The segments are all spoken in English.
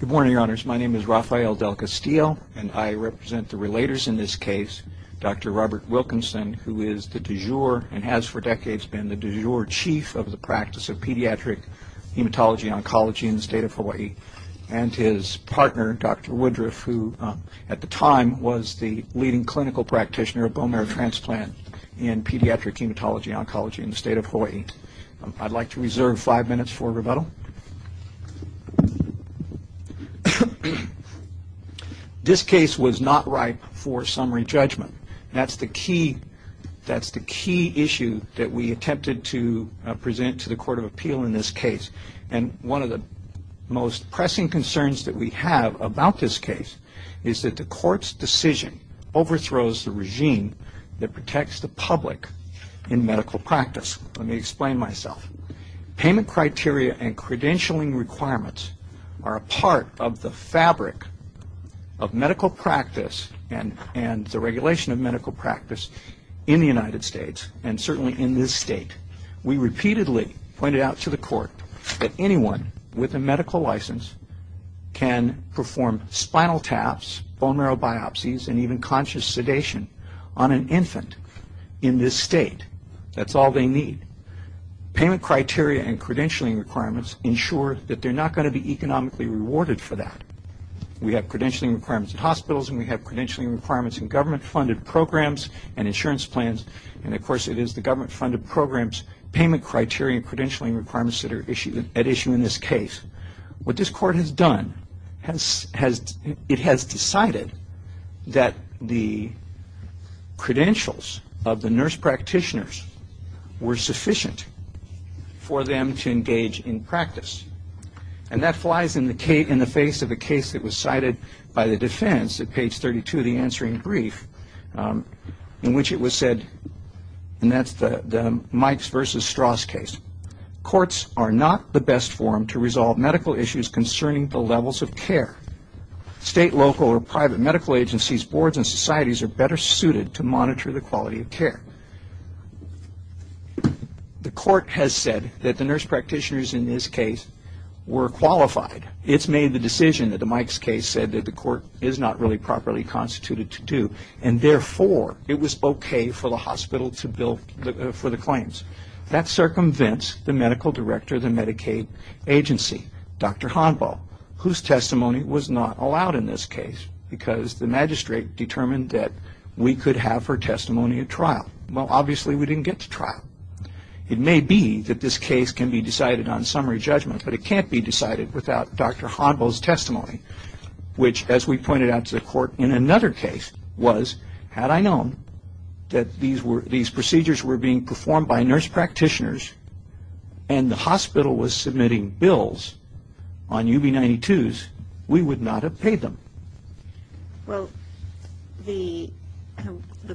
Good morning, your honors. My name is Rafael Del Castillo, and I represent the relators in this case, Dr. Robert Wilkinson, who is the du jour and has for decades been the du jour chief of the practice of pediatric hematology oncology in the state of Hawaii, and his partner, Dr. Woodruff, who at the time was the leading clinical practitioner of bone marrow transplant in pediatric hematology oncology in the state of Hawaii. I'd like to reserve five minutes for rebuttal. This case was not ripe for summary judgment. That's the key issue that we attempted to present to the Court of Appeal in this case, and one of the most pressing concerns that we have about this case is that the court's decision overthrows the regime that protects the public in medical practice. Let me explain myself. Payment criteria and credentialing requirements are a part of the fabric of medical practice and the regulation of medical practice in the United States, and certainly in this state. We repeatedly pointed out to the court that anyone with a medical license can perform spinal taps, bone marrow biopsies, and even conscious sedation on an infant in this state. That's all they need. Payment criteria and credentialing requirements ensure that they're not going to be economically rewarded for that. We have credentialing requirements in hospitals, and we have credentialing requirements in government-funded programs and insurance plans, and of course it is the government-funded programs, payment criteria, and credentialing requirements that are at issue in this case. What this court has done, it has decided that the credentials of the court are sufficient for them to engage in practice, and that flies in the face of a case that was cited by the defense at page 32 of the answering brief in which it was said, and that's the Mikes versus Strauss case, courts are not the best forum to resolve medical issues concerning the levels of care. State, local, or private medical agencies, boards, and societies are better suited to The court has said that the nurse practitioners in this case were qualified. It's made the decision that the Mikes case said that the court is not really properly constituted to do, and therefore it was okay for the hospital to bill for the claims. That circumvents the medical director of the Medicaid agency, Dr. Honbo, whose testimony was not allowed in this case because the magistrate determined that we could have her testimony at trial. Well, obviously we didn't get to trial. It may be that this case can be decided on summary judgment, but it can't be decided without Dr. Honbo's testimony, which, as we pointed out to the court in another case, was, had I known that these procedures were being performed by nurse practitioners and the hospital was submitting bills on UB 92s, we would not have paid them. Well, the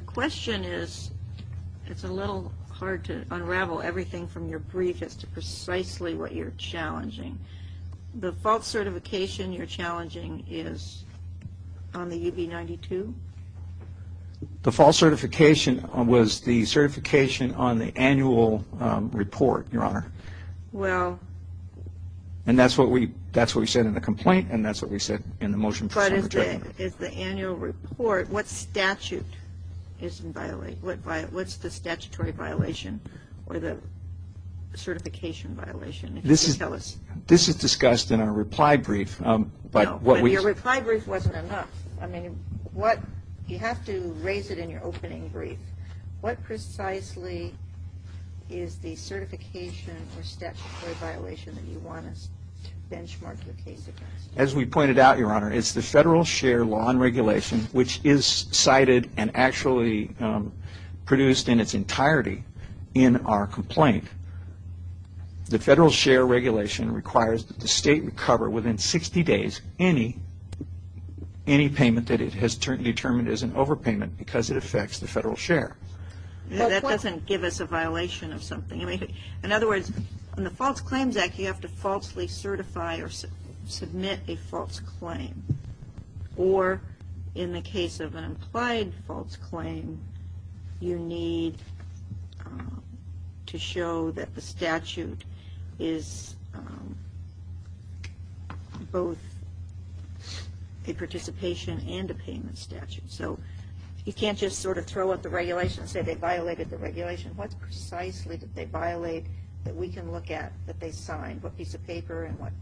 question is, it's a little hard to unravel everything from your brief as to precisely what you're challenging. The false certification you're challenging is on the UB 92? The false certification was the certification on the annual report, Your Honor. Well. And that's what we, that's what we said in the complaint and that's what we said in the motion for summary judgment. But is the annual report, what statute is in violation, what's the statutory violation or the certification violation? This is, this is discussed in our reply brief, but what we. Your reply brief wasn't enough. I mean, what, you have to raise it in your opening brief. What precisely is the certification or statutory violation that you want us to benchmark your case against? As we pointed out, Your Honor, it's the federal share law and regulation, which is cited and actually produced in its entirety in our complaint. The federal share regulation requires that the state recover within 60 days any, any payment that it has determined as an overpayment because it affects the federal share. That doesn't give us a violation of something. In other words, in the False Claims Act, you have to falsely certify or submit a false claim. Or in the case of an implied false claim, you need to show that the statute is both a participation and a payment statute. So you can't just sort of throw out the regulation and say they violated the regulation. What precisely did they violate that we can look at that they signed? What piece of paper and what?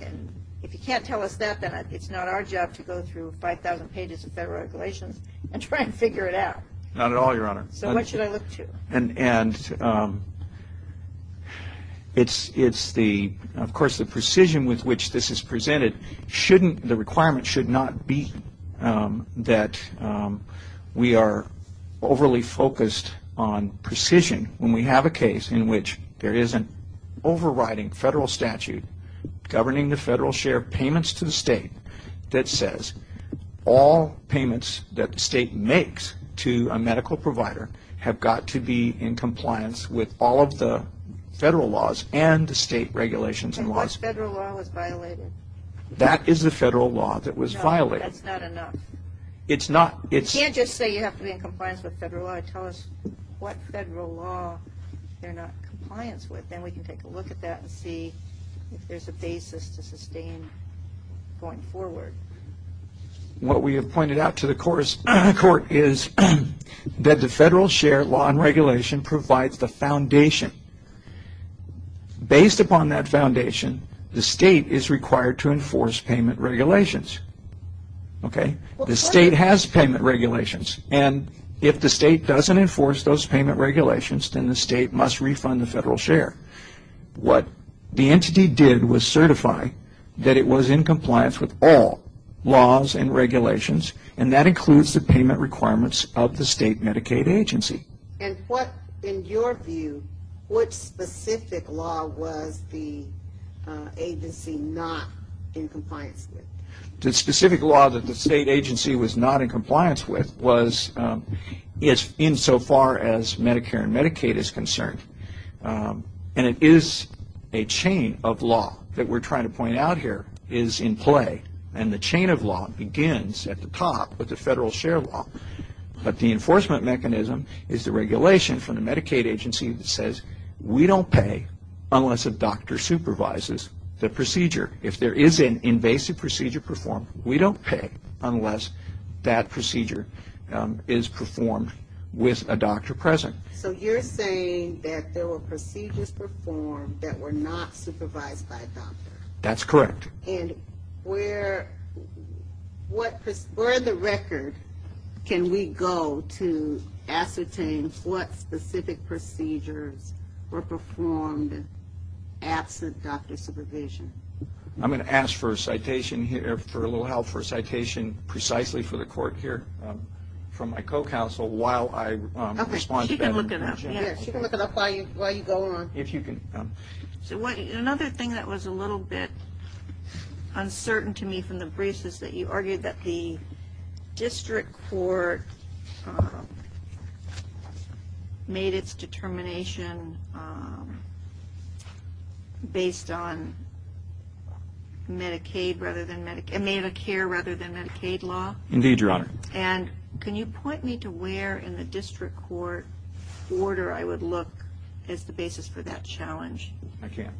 And if you can't tell us that, then it's not our job to go through 5,000 pages of federal regulations and try and figure it out. Not at all, Your Honor. So what should I look to? And, and it's, it's the, of course, the precision with which this is presented shouldn't, the requirement should not be that we are overly focused on precision when we have a case in which there is an overriding federal statute governing the federal share of payments to the state that says all payments that the state makes to a medical provider have got to be in compliance with all of the federal laws and the state regulations and laws. And what federal law was violated? That is the federal law that was violated. No, that's not enough. It's not, it's. You can't just say you have to be in compliance with federal law. Tell us what federal law they're not in compliance with. Then we can take a look at that and see if there's a basis to sustain going forward. What we have pointed out to the court is that the federal share law and regulation provides the foundation. Based upon that foundation, the state is required to enforce payment regulations. Okay. The state has payment regulations and if the state doesn't enforce those payment regulations, then the state must refund the federal share. What the entity did was certify that it was in compliance with all laws and regulations and that includes the payment requirements of the state Medicaid agency. And what, in your view, what specific law was the agency not in compliance with? The specific law that the agency was in so far as Medicare and Medicaid is concerned. And it is a chain of law that we're trying to point out here is in play. And the chain of law begins at the top with the federal share law. But the enforcement mechanism is the regulation from the Medicaid agency that says we don't pay unless a doctor supervises the procedure. If there is an invasive procedure performed, we don't pay unless that procedure is performed with a doctor present. So you're saying that there were procedures performed that were not supervised by a doctor? That's correct. And where the record can we go to ascertain what specific procedures were performed absent doctor supervision? I'm going to ask for a little help for a citation precisely for the court here from my co-counsel while I respond to that. She can look it up while you go on. Another thing that was a little bit uncertain to me from the briefs is that you argued that the district court made its determination based on Medicare rather than Medicaid law. And can you point me to where in the district court order I would look as the basis for that challenge? I can't.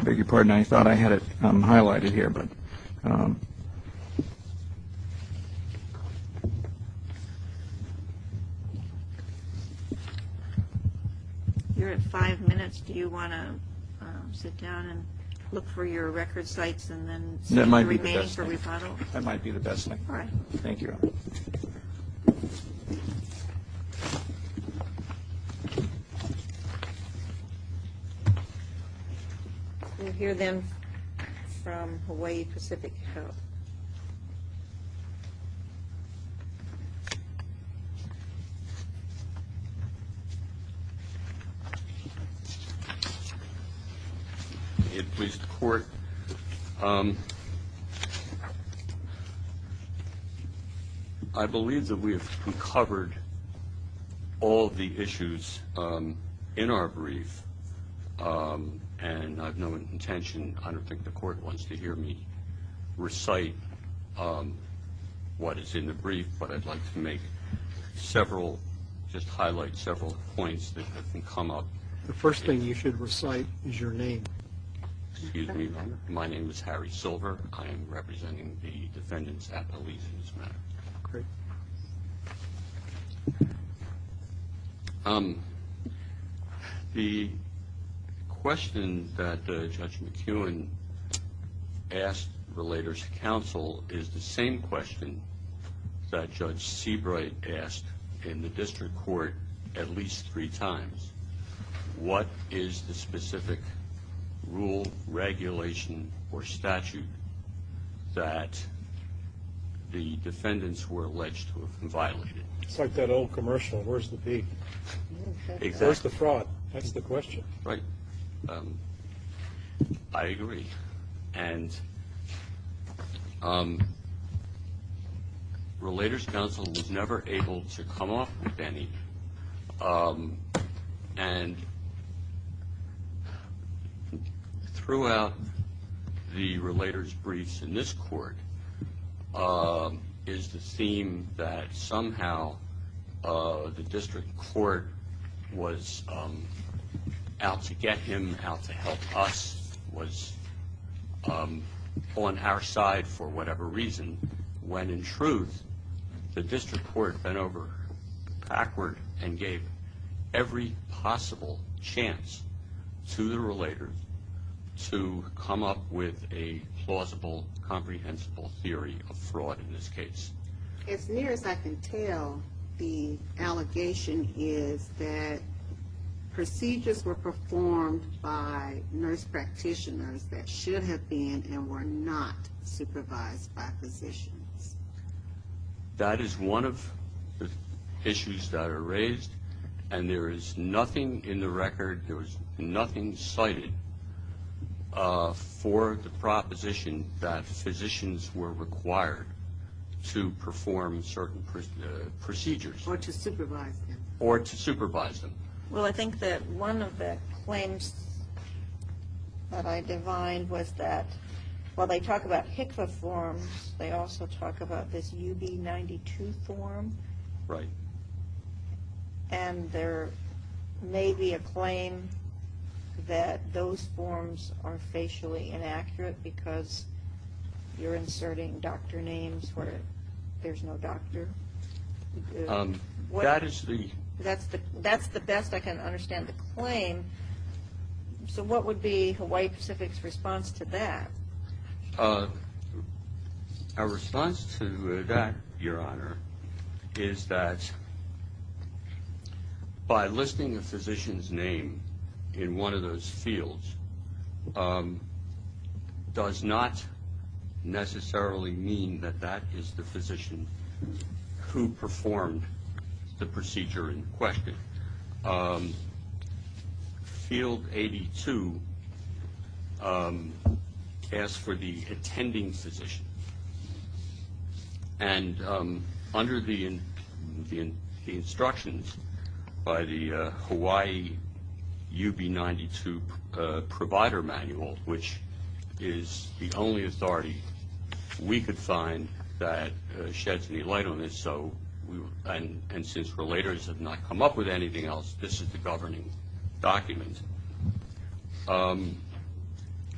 I beg your pardon. I thought I had it highlighted here. You're at five minutes. Do you want to sit down and look for your record sites and then remain for rebuttal? That might be the best thing. Thank you. We'll hear then from Hawaii Pacific Health. Please, the court. I believe that we have covered all the issues in our brief and I have no intention, I don't think the court wants to hear me recite what is in the brief, but I'd like to make several, just highlight several points that have come up. The first thing you should recite is your name. Excuse me. My name is Harry Silver. I am representing the defendants at the lease in this matter. Great. The question that Judge McEwen asked relators to counsel is the same question that Judge Seabright asked in the district court at least three times. What is the specific rule, regulation, or statute that the defendants were alleged to have violated? It's like that old commercial, where's the beat? Where's the fraud? That's the question. Right. I agree. Relators counsel was never able to come off with any. And throughout the relators briefs in this court is the theme that somehow the district court was out to get him, out to help us, was on our side for whatever reason. When in truth, the district court went over backward and gave every possible chance to the relators to come up with a plausible, comprehensible theory of fraud in this case. As near as I can tell, the allegation is that procedures were performed by nurse practitioners that should have been and were not supervised by physicians. That is one of the issues that are raised and there is nothing in the record, there is nothing cited for the proposition that physicians were required to perform certain procedures. Or to supervise them. Or to supervise them. Well, I think that one of the claims that I defined was that while they talk about HICVA forms, they also talk about this UB 92 form. Right. And there may be a claim that those forms are facially inaccurate because you're inserting doctor names where there's no doctor. That's the best I can understand the claim. So what would be Hawaii Pacific's response to that? Our response to that, Your Honor, is that by listing a physician's name in one of those fields does not necessarily mean that that is the physician who performed the procedure in question. Field 82 asks for the attending physician and under the instructions by the Hawaii UB 92 provider manual, which is the only authority we could find that sheds any light on this. And since relators have not come up with anything else, this is the governing document.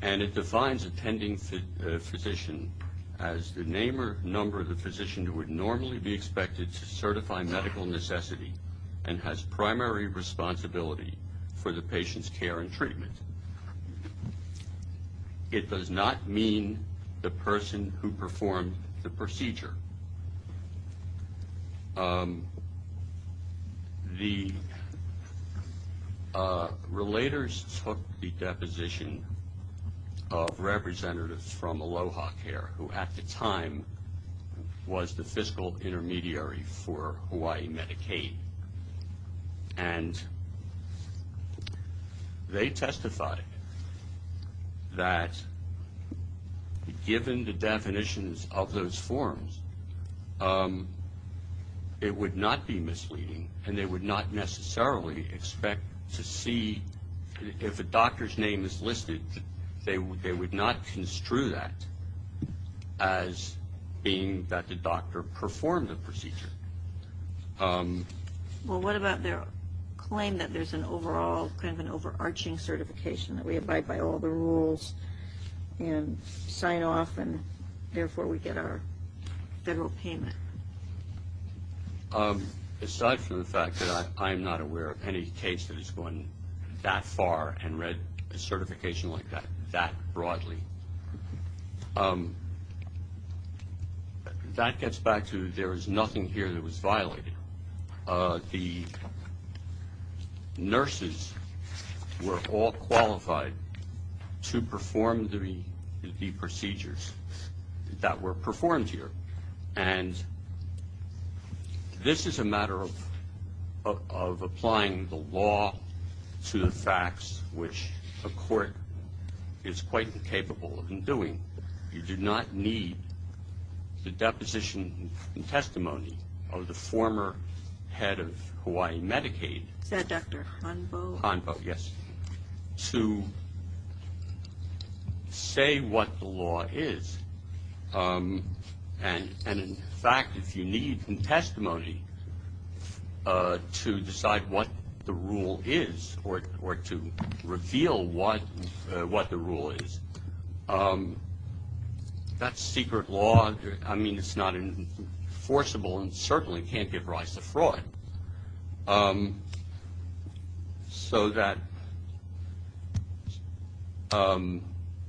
And it defines attending physician as the name or number of the physician who would normally be expected to certify medical necessity and has primary responsibility for the patient's care and treatment. It does not mean the person who performed the procedure. The relators took the deposition of representatives from Aloha Care, who at the time was the fiscal intermediary for Hawaii Medicaid. And they testified that given the definitions of those forms, it would not be misleading and they would not necessarily expect to see if a doctor's name is listed, they would not construe that as being that the doctor performed the procedure. Well, what about their claim that there's an overall kind of an overarching certification that we abide by all the rules and sign off and therefore we get our federal payment? Aside from the fact that I am not aware of any case that has gone that far and read a certification like that that broadly. That gets back to there is nothing here that was violated. The nurses were all qualified to perform the procedures that were performed here. And this is a matter of applying the law to the facts, which a court is quite capable of doing. You do not need the deposition and testimony of the former head of Hawaii Medicaid to say what the law is. And in fact, if you need testimony to decide what the rule is or to reveal what the rule is, that's secret law. I mean, it's not enforceable and certainly can't give rise to fraud. So that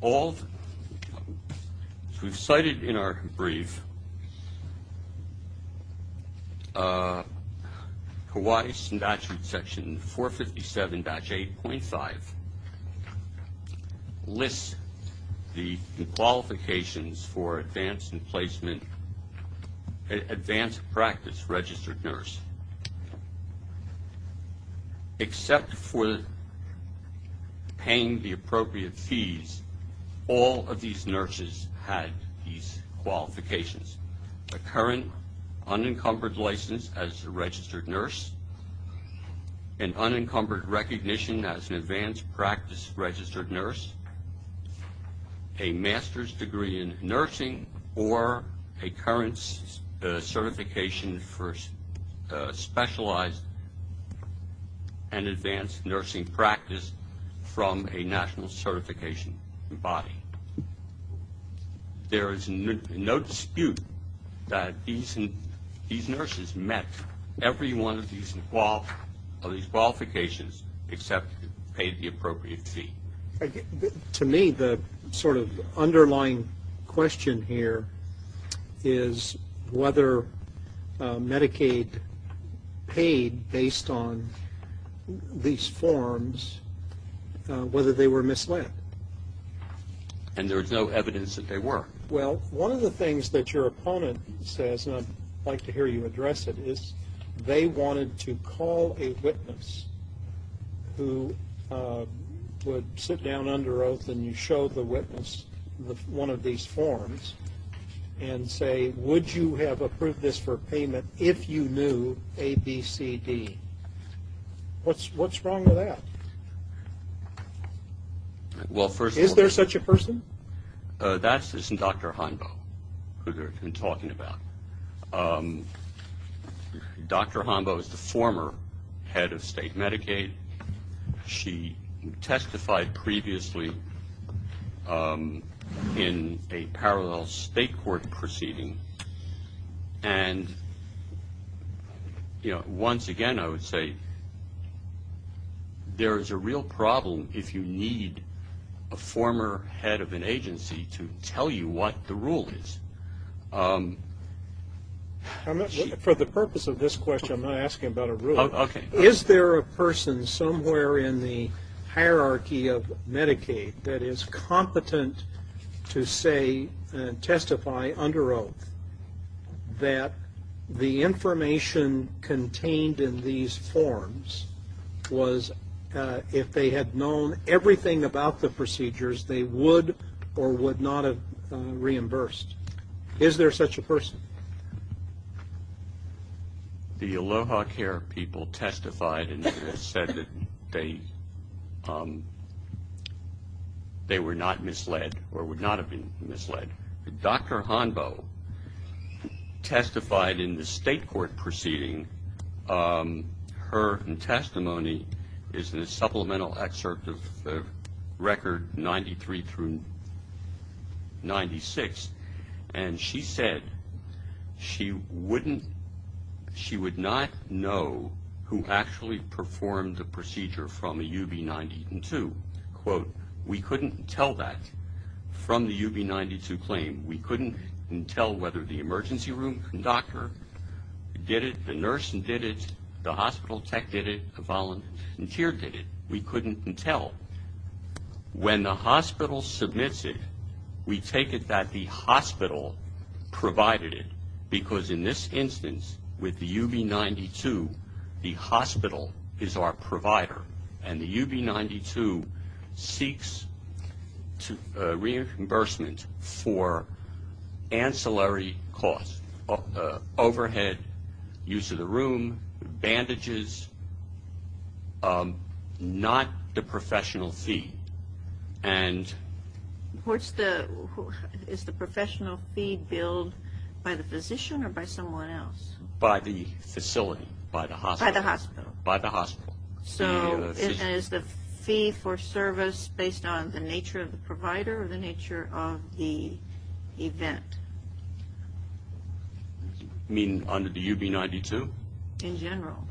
all, as we've cited in our brief, Hawaii statute section 457-8.5 lists the qualifications for advanced placement, advanced practice registered nurse. Except for paying the appropriate fees, all of these nurses had these qualifications. A current unencumbered license as a registered nurse, an unencumbered recognition as an advanced practice registered nurse, a master's degree in nursing or a current certification for specialized and advanced nursing practice from a national certification body. There is no dispute that these nurses met every one of these qualifications except paid the appropriate fee. To me, the sort of underlying question here is whether Medicaid paid based on these forms, whether they were misled. And there's no evidence that they were. Well, one of the things that your opponent says, and I'd like to hear you address it, is they wanted to call a witness who would sit down under oath and you show the witness one of these forms and say, would you have approved this for payment if you knew A, B, C, D? What's wrong with that? Is there such a person? That's Dr. Honbo, who we've been talking about. Dr. Honbo is the former head of state Medicaid. She testified previously in a parallel state court proceeding. And, you know, once again, I would say there is a real problem if you need a former head of an agency to tell you what the rule is. For the purpose of this question, I'm not asking about a rule. Is there a person somewhere in the hierarchy of Medicaid that is competent to say and testify under oath that the information contained in these forms was, if they had known everything about the procedures, they would or would not have reimbursed? Is there such a person? The Aloha Care people testified and said that they were not misled or would not have been misled. Dr. Honbo testified in the state court proceeding. Her testimony is in a supplemental excerpt of Record 93 through 96. And she said she would not know who actually performed the procedure from a UB-92. Quote, we couldn't tell that from the UB-92 claim. We couldn't tell whether the emergency room doctor did it, the nurse did it, the hospital tech did it, the volunteer did it. We couldn't tell. When the hospital submits it, we take it that the hospital provided it, because in this instance with the UB-92, the hospital is our provider. And the UB-92 seeks reimbursement for ancillary costs, overhead, use of the room, bandages, not the professional fee. Is the professional fee billed by the physician or by someone else? By the facility, by the hospital. So is the fee for service based on the nature of the provider or the nature of the event? You mean under the UB-92? In general.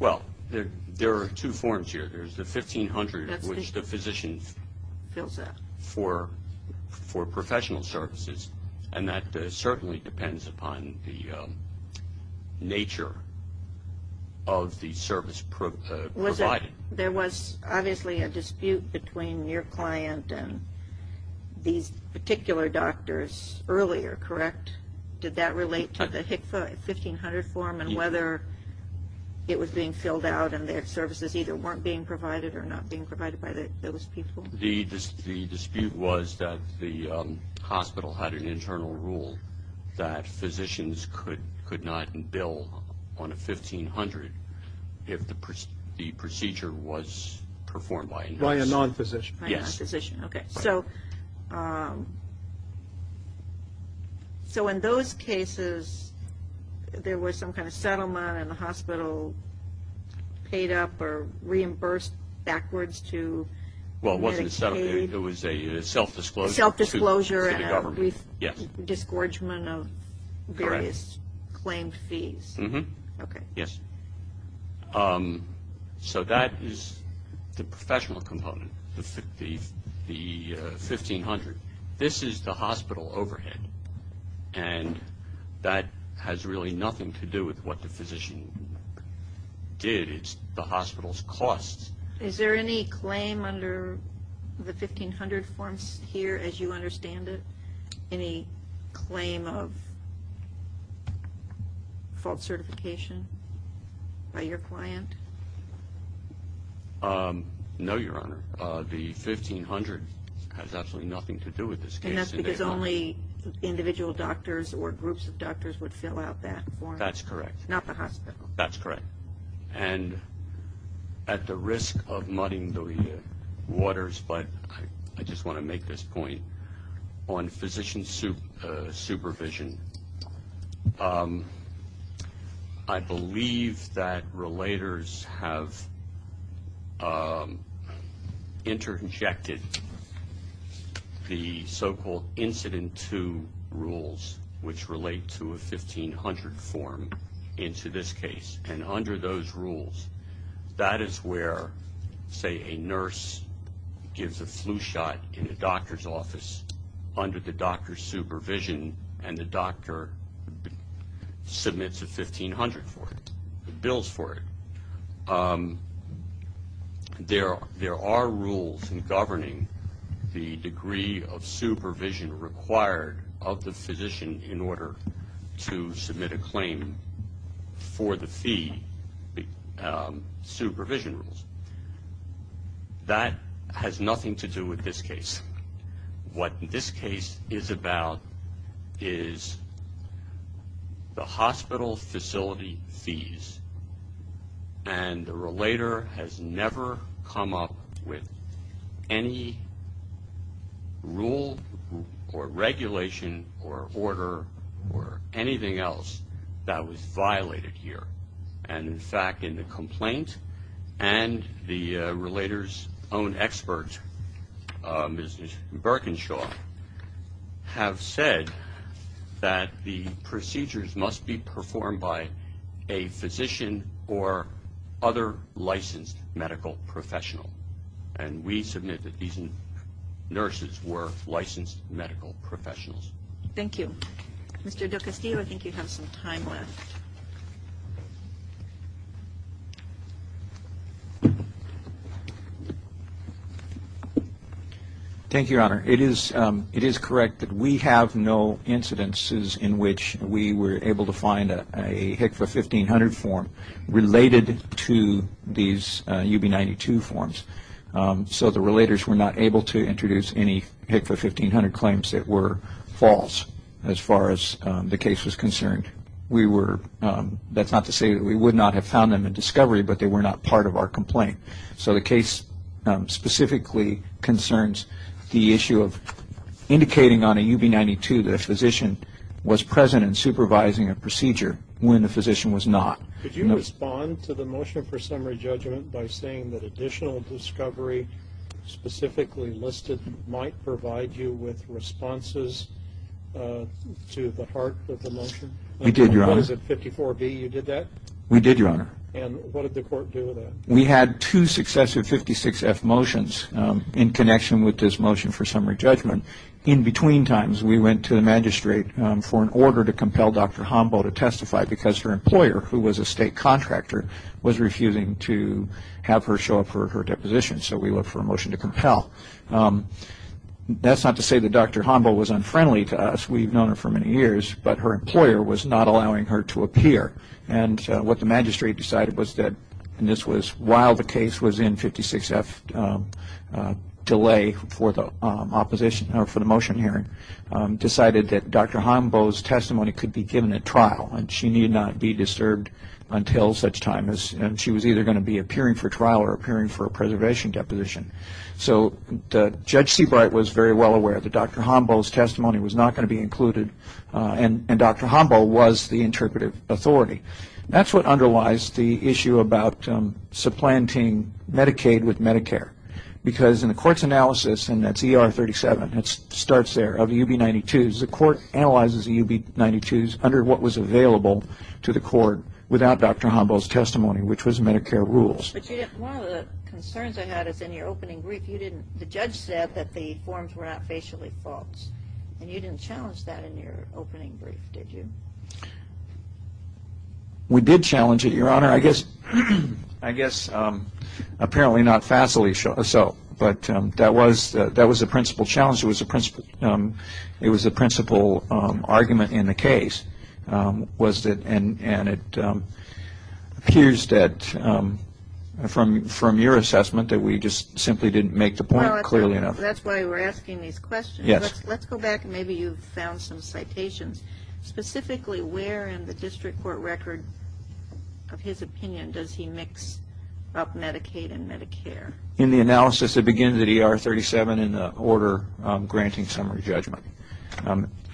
Well, there are two forms here. There's the 1500, which the physician fills out for professional services, and that certainly depends upon the nature of the service provided. There was obviously a dispute between your client and these particular doctors earlier, correct? Did that relate to the HCFA 1500 form and whether it was being filled out and their services either weren't being provided or not being provided by those people? The dispute was that the hospital had an internal rule that physicians could not bill on a 1500 if the procedure was performed by a nurse. By a non-physician. Yes. So in those cases, there was some kind of settlement and the hospital paid up or reimbursed backwards to Medicaid? Well, it wasn't a settlement. It was a self-disclosure. Self-disclosure and a disgorgement of various claimed fees. Correct. Okay. Yes. So that is the professional component, the 1500. This is the hospital overhead, and that has really nothing to do with what the physician did. It's the hospital's costs. Is there any claim under the 1500 forms here as you understand it? Any claim of false certification by your client? No, Your Honor. The 1500 has absolutely nothing to do with this case. And that's because only individual doctors or groups of doctors would fill out that form? That's correct. Not the hospital. That's correct. And at the risk of muddying the waters, but I just want to make this point, on physician supervision, I believe that relators have interjected the so-called incident to rules, which relate to a 1500 form into this case. And under those rules, that is where, say, a nurse gives a flu shot in the doctor's office under the doctor's supervision, and the doctor submits a 1500 for it, bills for it. There are rules in governing the degree of supervision required of the physician in order to submit a claim for the fee, supervision rules. That has nothing to do with this case. What this case is about is the hospital facility fees. And the relator has never come up with any rule or regulation or order or anything else that was violated here. And, in fact, in the complaint, and the relator's own expert, Mrs. Birkenshaw, have said that the procedures must be performed by a physician or other licensed medical professional. And we submit that these nurses were licensed medical professionals. Thank you. Mr. DelCastillo, I think you have some time left. Thank you, Your Honor. It is correct that we have no incidences in which we were able to find a HCFA 1500 form related to these UB92 forms. So the relators were not able to introduce any HCFA 1500 claims that were false, as far as the case was concerned. That's not to say that we would not have found them in discovery, but they were not part of our complaint. So the case specifically concerns the issue of indicating on a UB92 that a physician was present and supervising a procedure when the physician was not. Could you respond to the motion for summary judgment by saying that additional discovery specifically listed might provide you with responses to the heart of the motion? We did, Your Honor. What is it, 54B, you did that? We did, Your Honor. And what did the court do with that? We had two successive 56F motions in connection with this motion for summary judgment. In between times, we went to the magistrate for an order to compel Dr. Hombo to testify because her employer, who was a state contractor, was refusing to have her show up for her deposition. So we looked for a motion to compel. That's not to say that Dr. Hombo was unfriendly to us. We've known her for many years. But her employer was not allowing her to appear. And what the magistrate decided was that this was while the case was in 56F delay for the motion hearing, decided that Dr. Hombo's testimony could be given at trial. And she need not be disturbed until such time as she was either going to be appearing for trial or appearing for a preservation deposition. So Judge Seabright was very well aware that Dr. Hombo's testimony was not going to be included. And Dr. Hombo was the interpretive authority. That's what underlies the issue about supplanting Medicaid with Medicare. Because in the court's analysis, and that's ER 37, it starts there, of UB 92s, the court analyzes the UB 92s under what was available to the court without Dr. Hombo's testimony, which was Medicare rules. One of the concerns I had is in your opening brief, the judge said that the forms were not facially false. And you didn't challenge that in your opening brief, did you? We did challenge it, Your Honor. I guess apparently not facially so. But that was the principal challenge. It was the principal argument in the case, and it appears that from your assessment that we just simply didn't make the point clearly enough. That's why we're asking these questions. Yes. Let's go back and maybe you've found some citations. Specifically, where in the district court record of his opinion does he mix up Medicaid and Medicare? In the analysis that begins at ER 37 in the order granting summary judgment,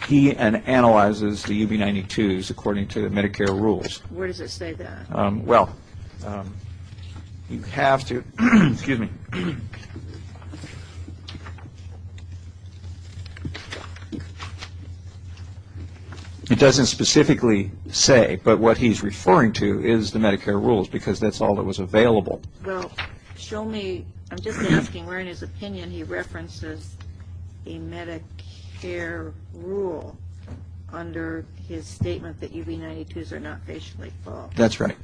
he analyzes the UB 92s according to the Medicare rules. Where does it say that? Well, you have to ‑‑ excuse me. It doesn't specifically say, but what he's referring to is the Medicare rules, because that's all that was available. Well, show me, I'm just asking where in his opinion he references a Medicare rule under his statement that UB 92s are not facially false. That's right.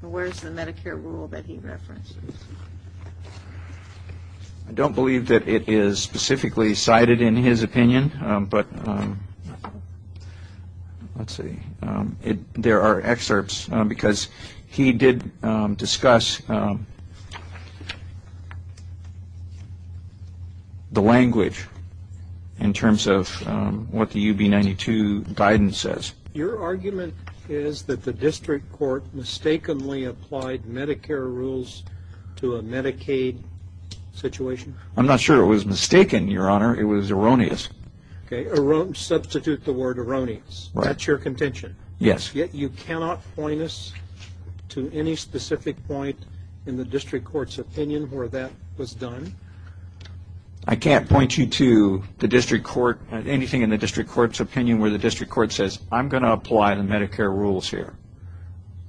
Where is the Medicare rule that he references? I don't believe that it is specifically cited in his opinion, but let's see. There are excerpts, because he did discuss the language in terms of what the UB 92 guidance says. Your argument is that the district court mistakenly applied Medicare rules to a Medicaid situation? I'm not sure it was mistaken, Your Honor. It was erroneous. Okay, substitute the word erroneous. That's your contention? Yes. Yet you cannot point us to any specific point in the district court's opinion where that was done? I can't point you to anything in the district court's opinion where the district court says, I'm going to apply the Medicare rules here,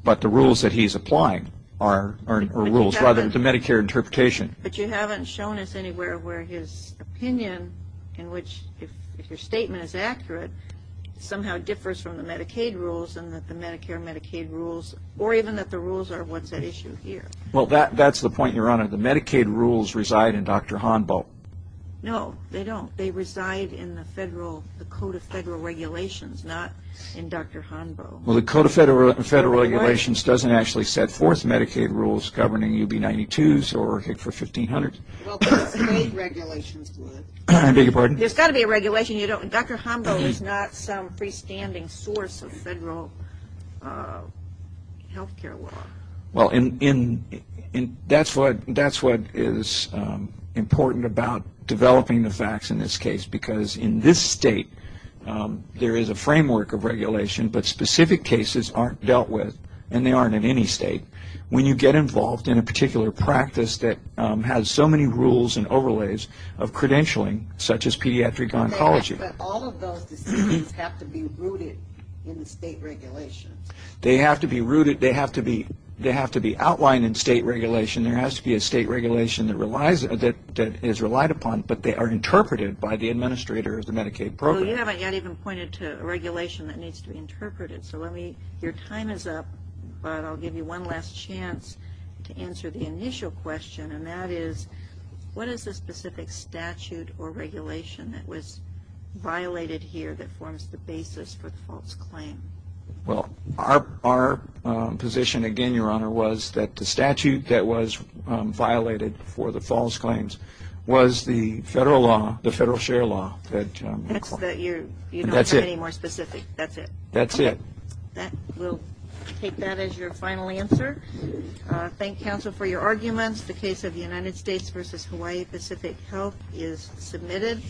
but the rules that he's applying are rules, rather than the Medicare interpretation. But you haven't shown us anywhere where his opinion, in which if your statement is accurate, somehow differs from the Medicaid rules and that the Medicare, Medicaid rules, or even that the rules are what's at issue here. Well, that's the point, Your Honor. The Medicaid rules reside in Dr. Honbo. No, they don't. They reside in the Code of Federal Regulations, not in Dr. Honbo. Well, the Code of Federal Regulations doesn't actually set forth Medicaid rules governing UB 92s or for 1500s. Well, the state regulations would. I beg your pardon? There's got to be a regulation. Dr. Honbo is not some freestanding source of federal health care law. Well, that's what is important about developing the facts in this case, because in this state there is a framework of regulation, but specific cases aren't dealt with, and they aren't in any state. When you get involved in a particular practice that has so many rules and overlays of credentialing, such as pediatric oncology. But all of those decisions have to be rooted in the state regulations. They have to be rooted. They have to be outlined in state regulation. There has to be a state regulation that is relied upon, but they are interpreted by the administrator of the Medicaid program. Well, you haven't yet even pointed to a regulation that needs to be interpreted, so your time is up, but I'll give you one last chance to answer the initial question, and that is, what is the specific statute or regulation that was violated here that forms the basis for the false claim? Well, our position, again, Your Honor, was that the statute that was violated for the false claims was the federal law, the federal share law. That's it. You don't have any more specifics. That's it. That's it. We'll take that as your final answer. Thank counsel for your arguments. The case of the United States v. Hawaii Pacific Health is submitted.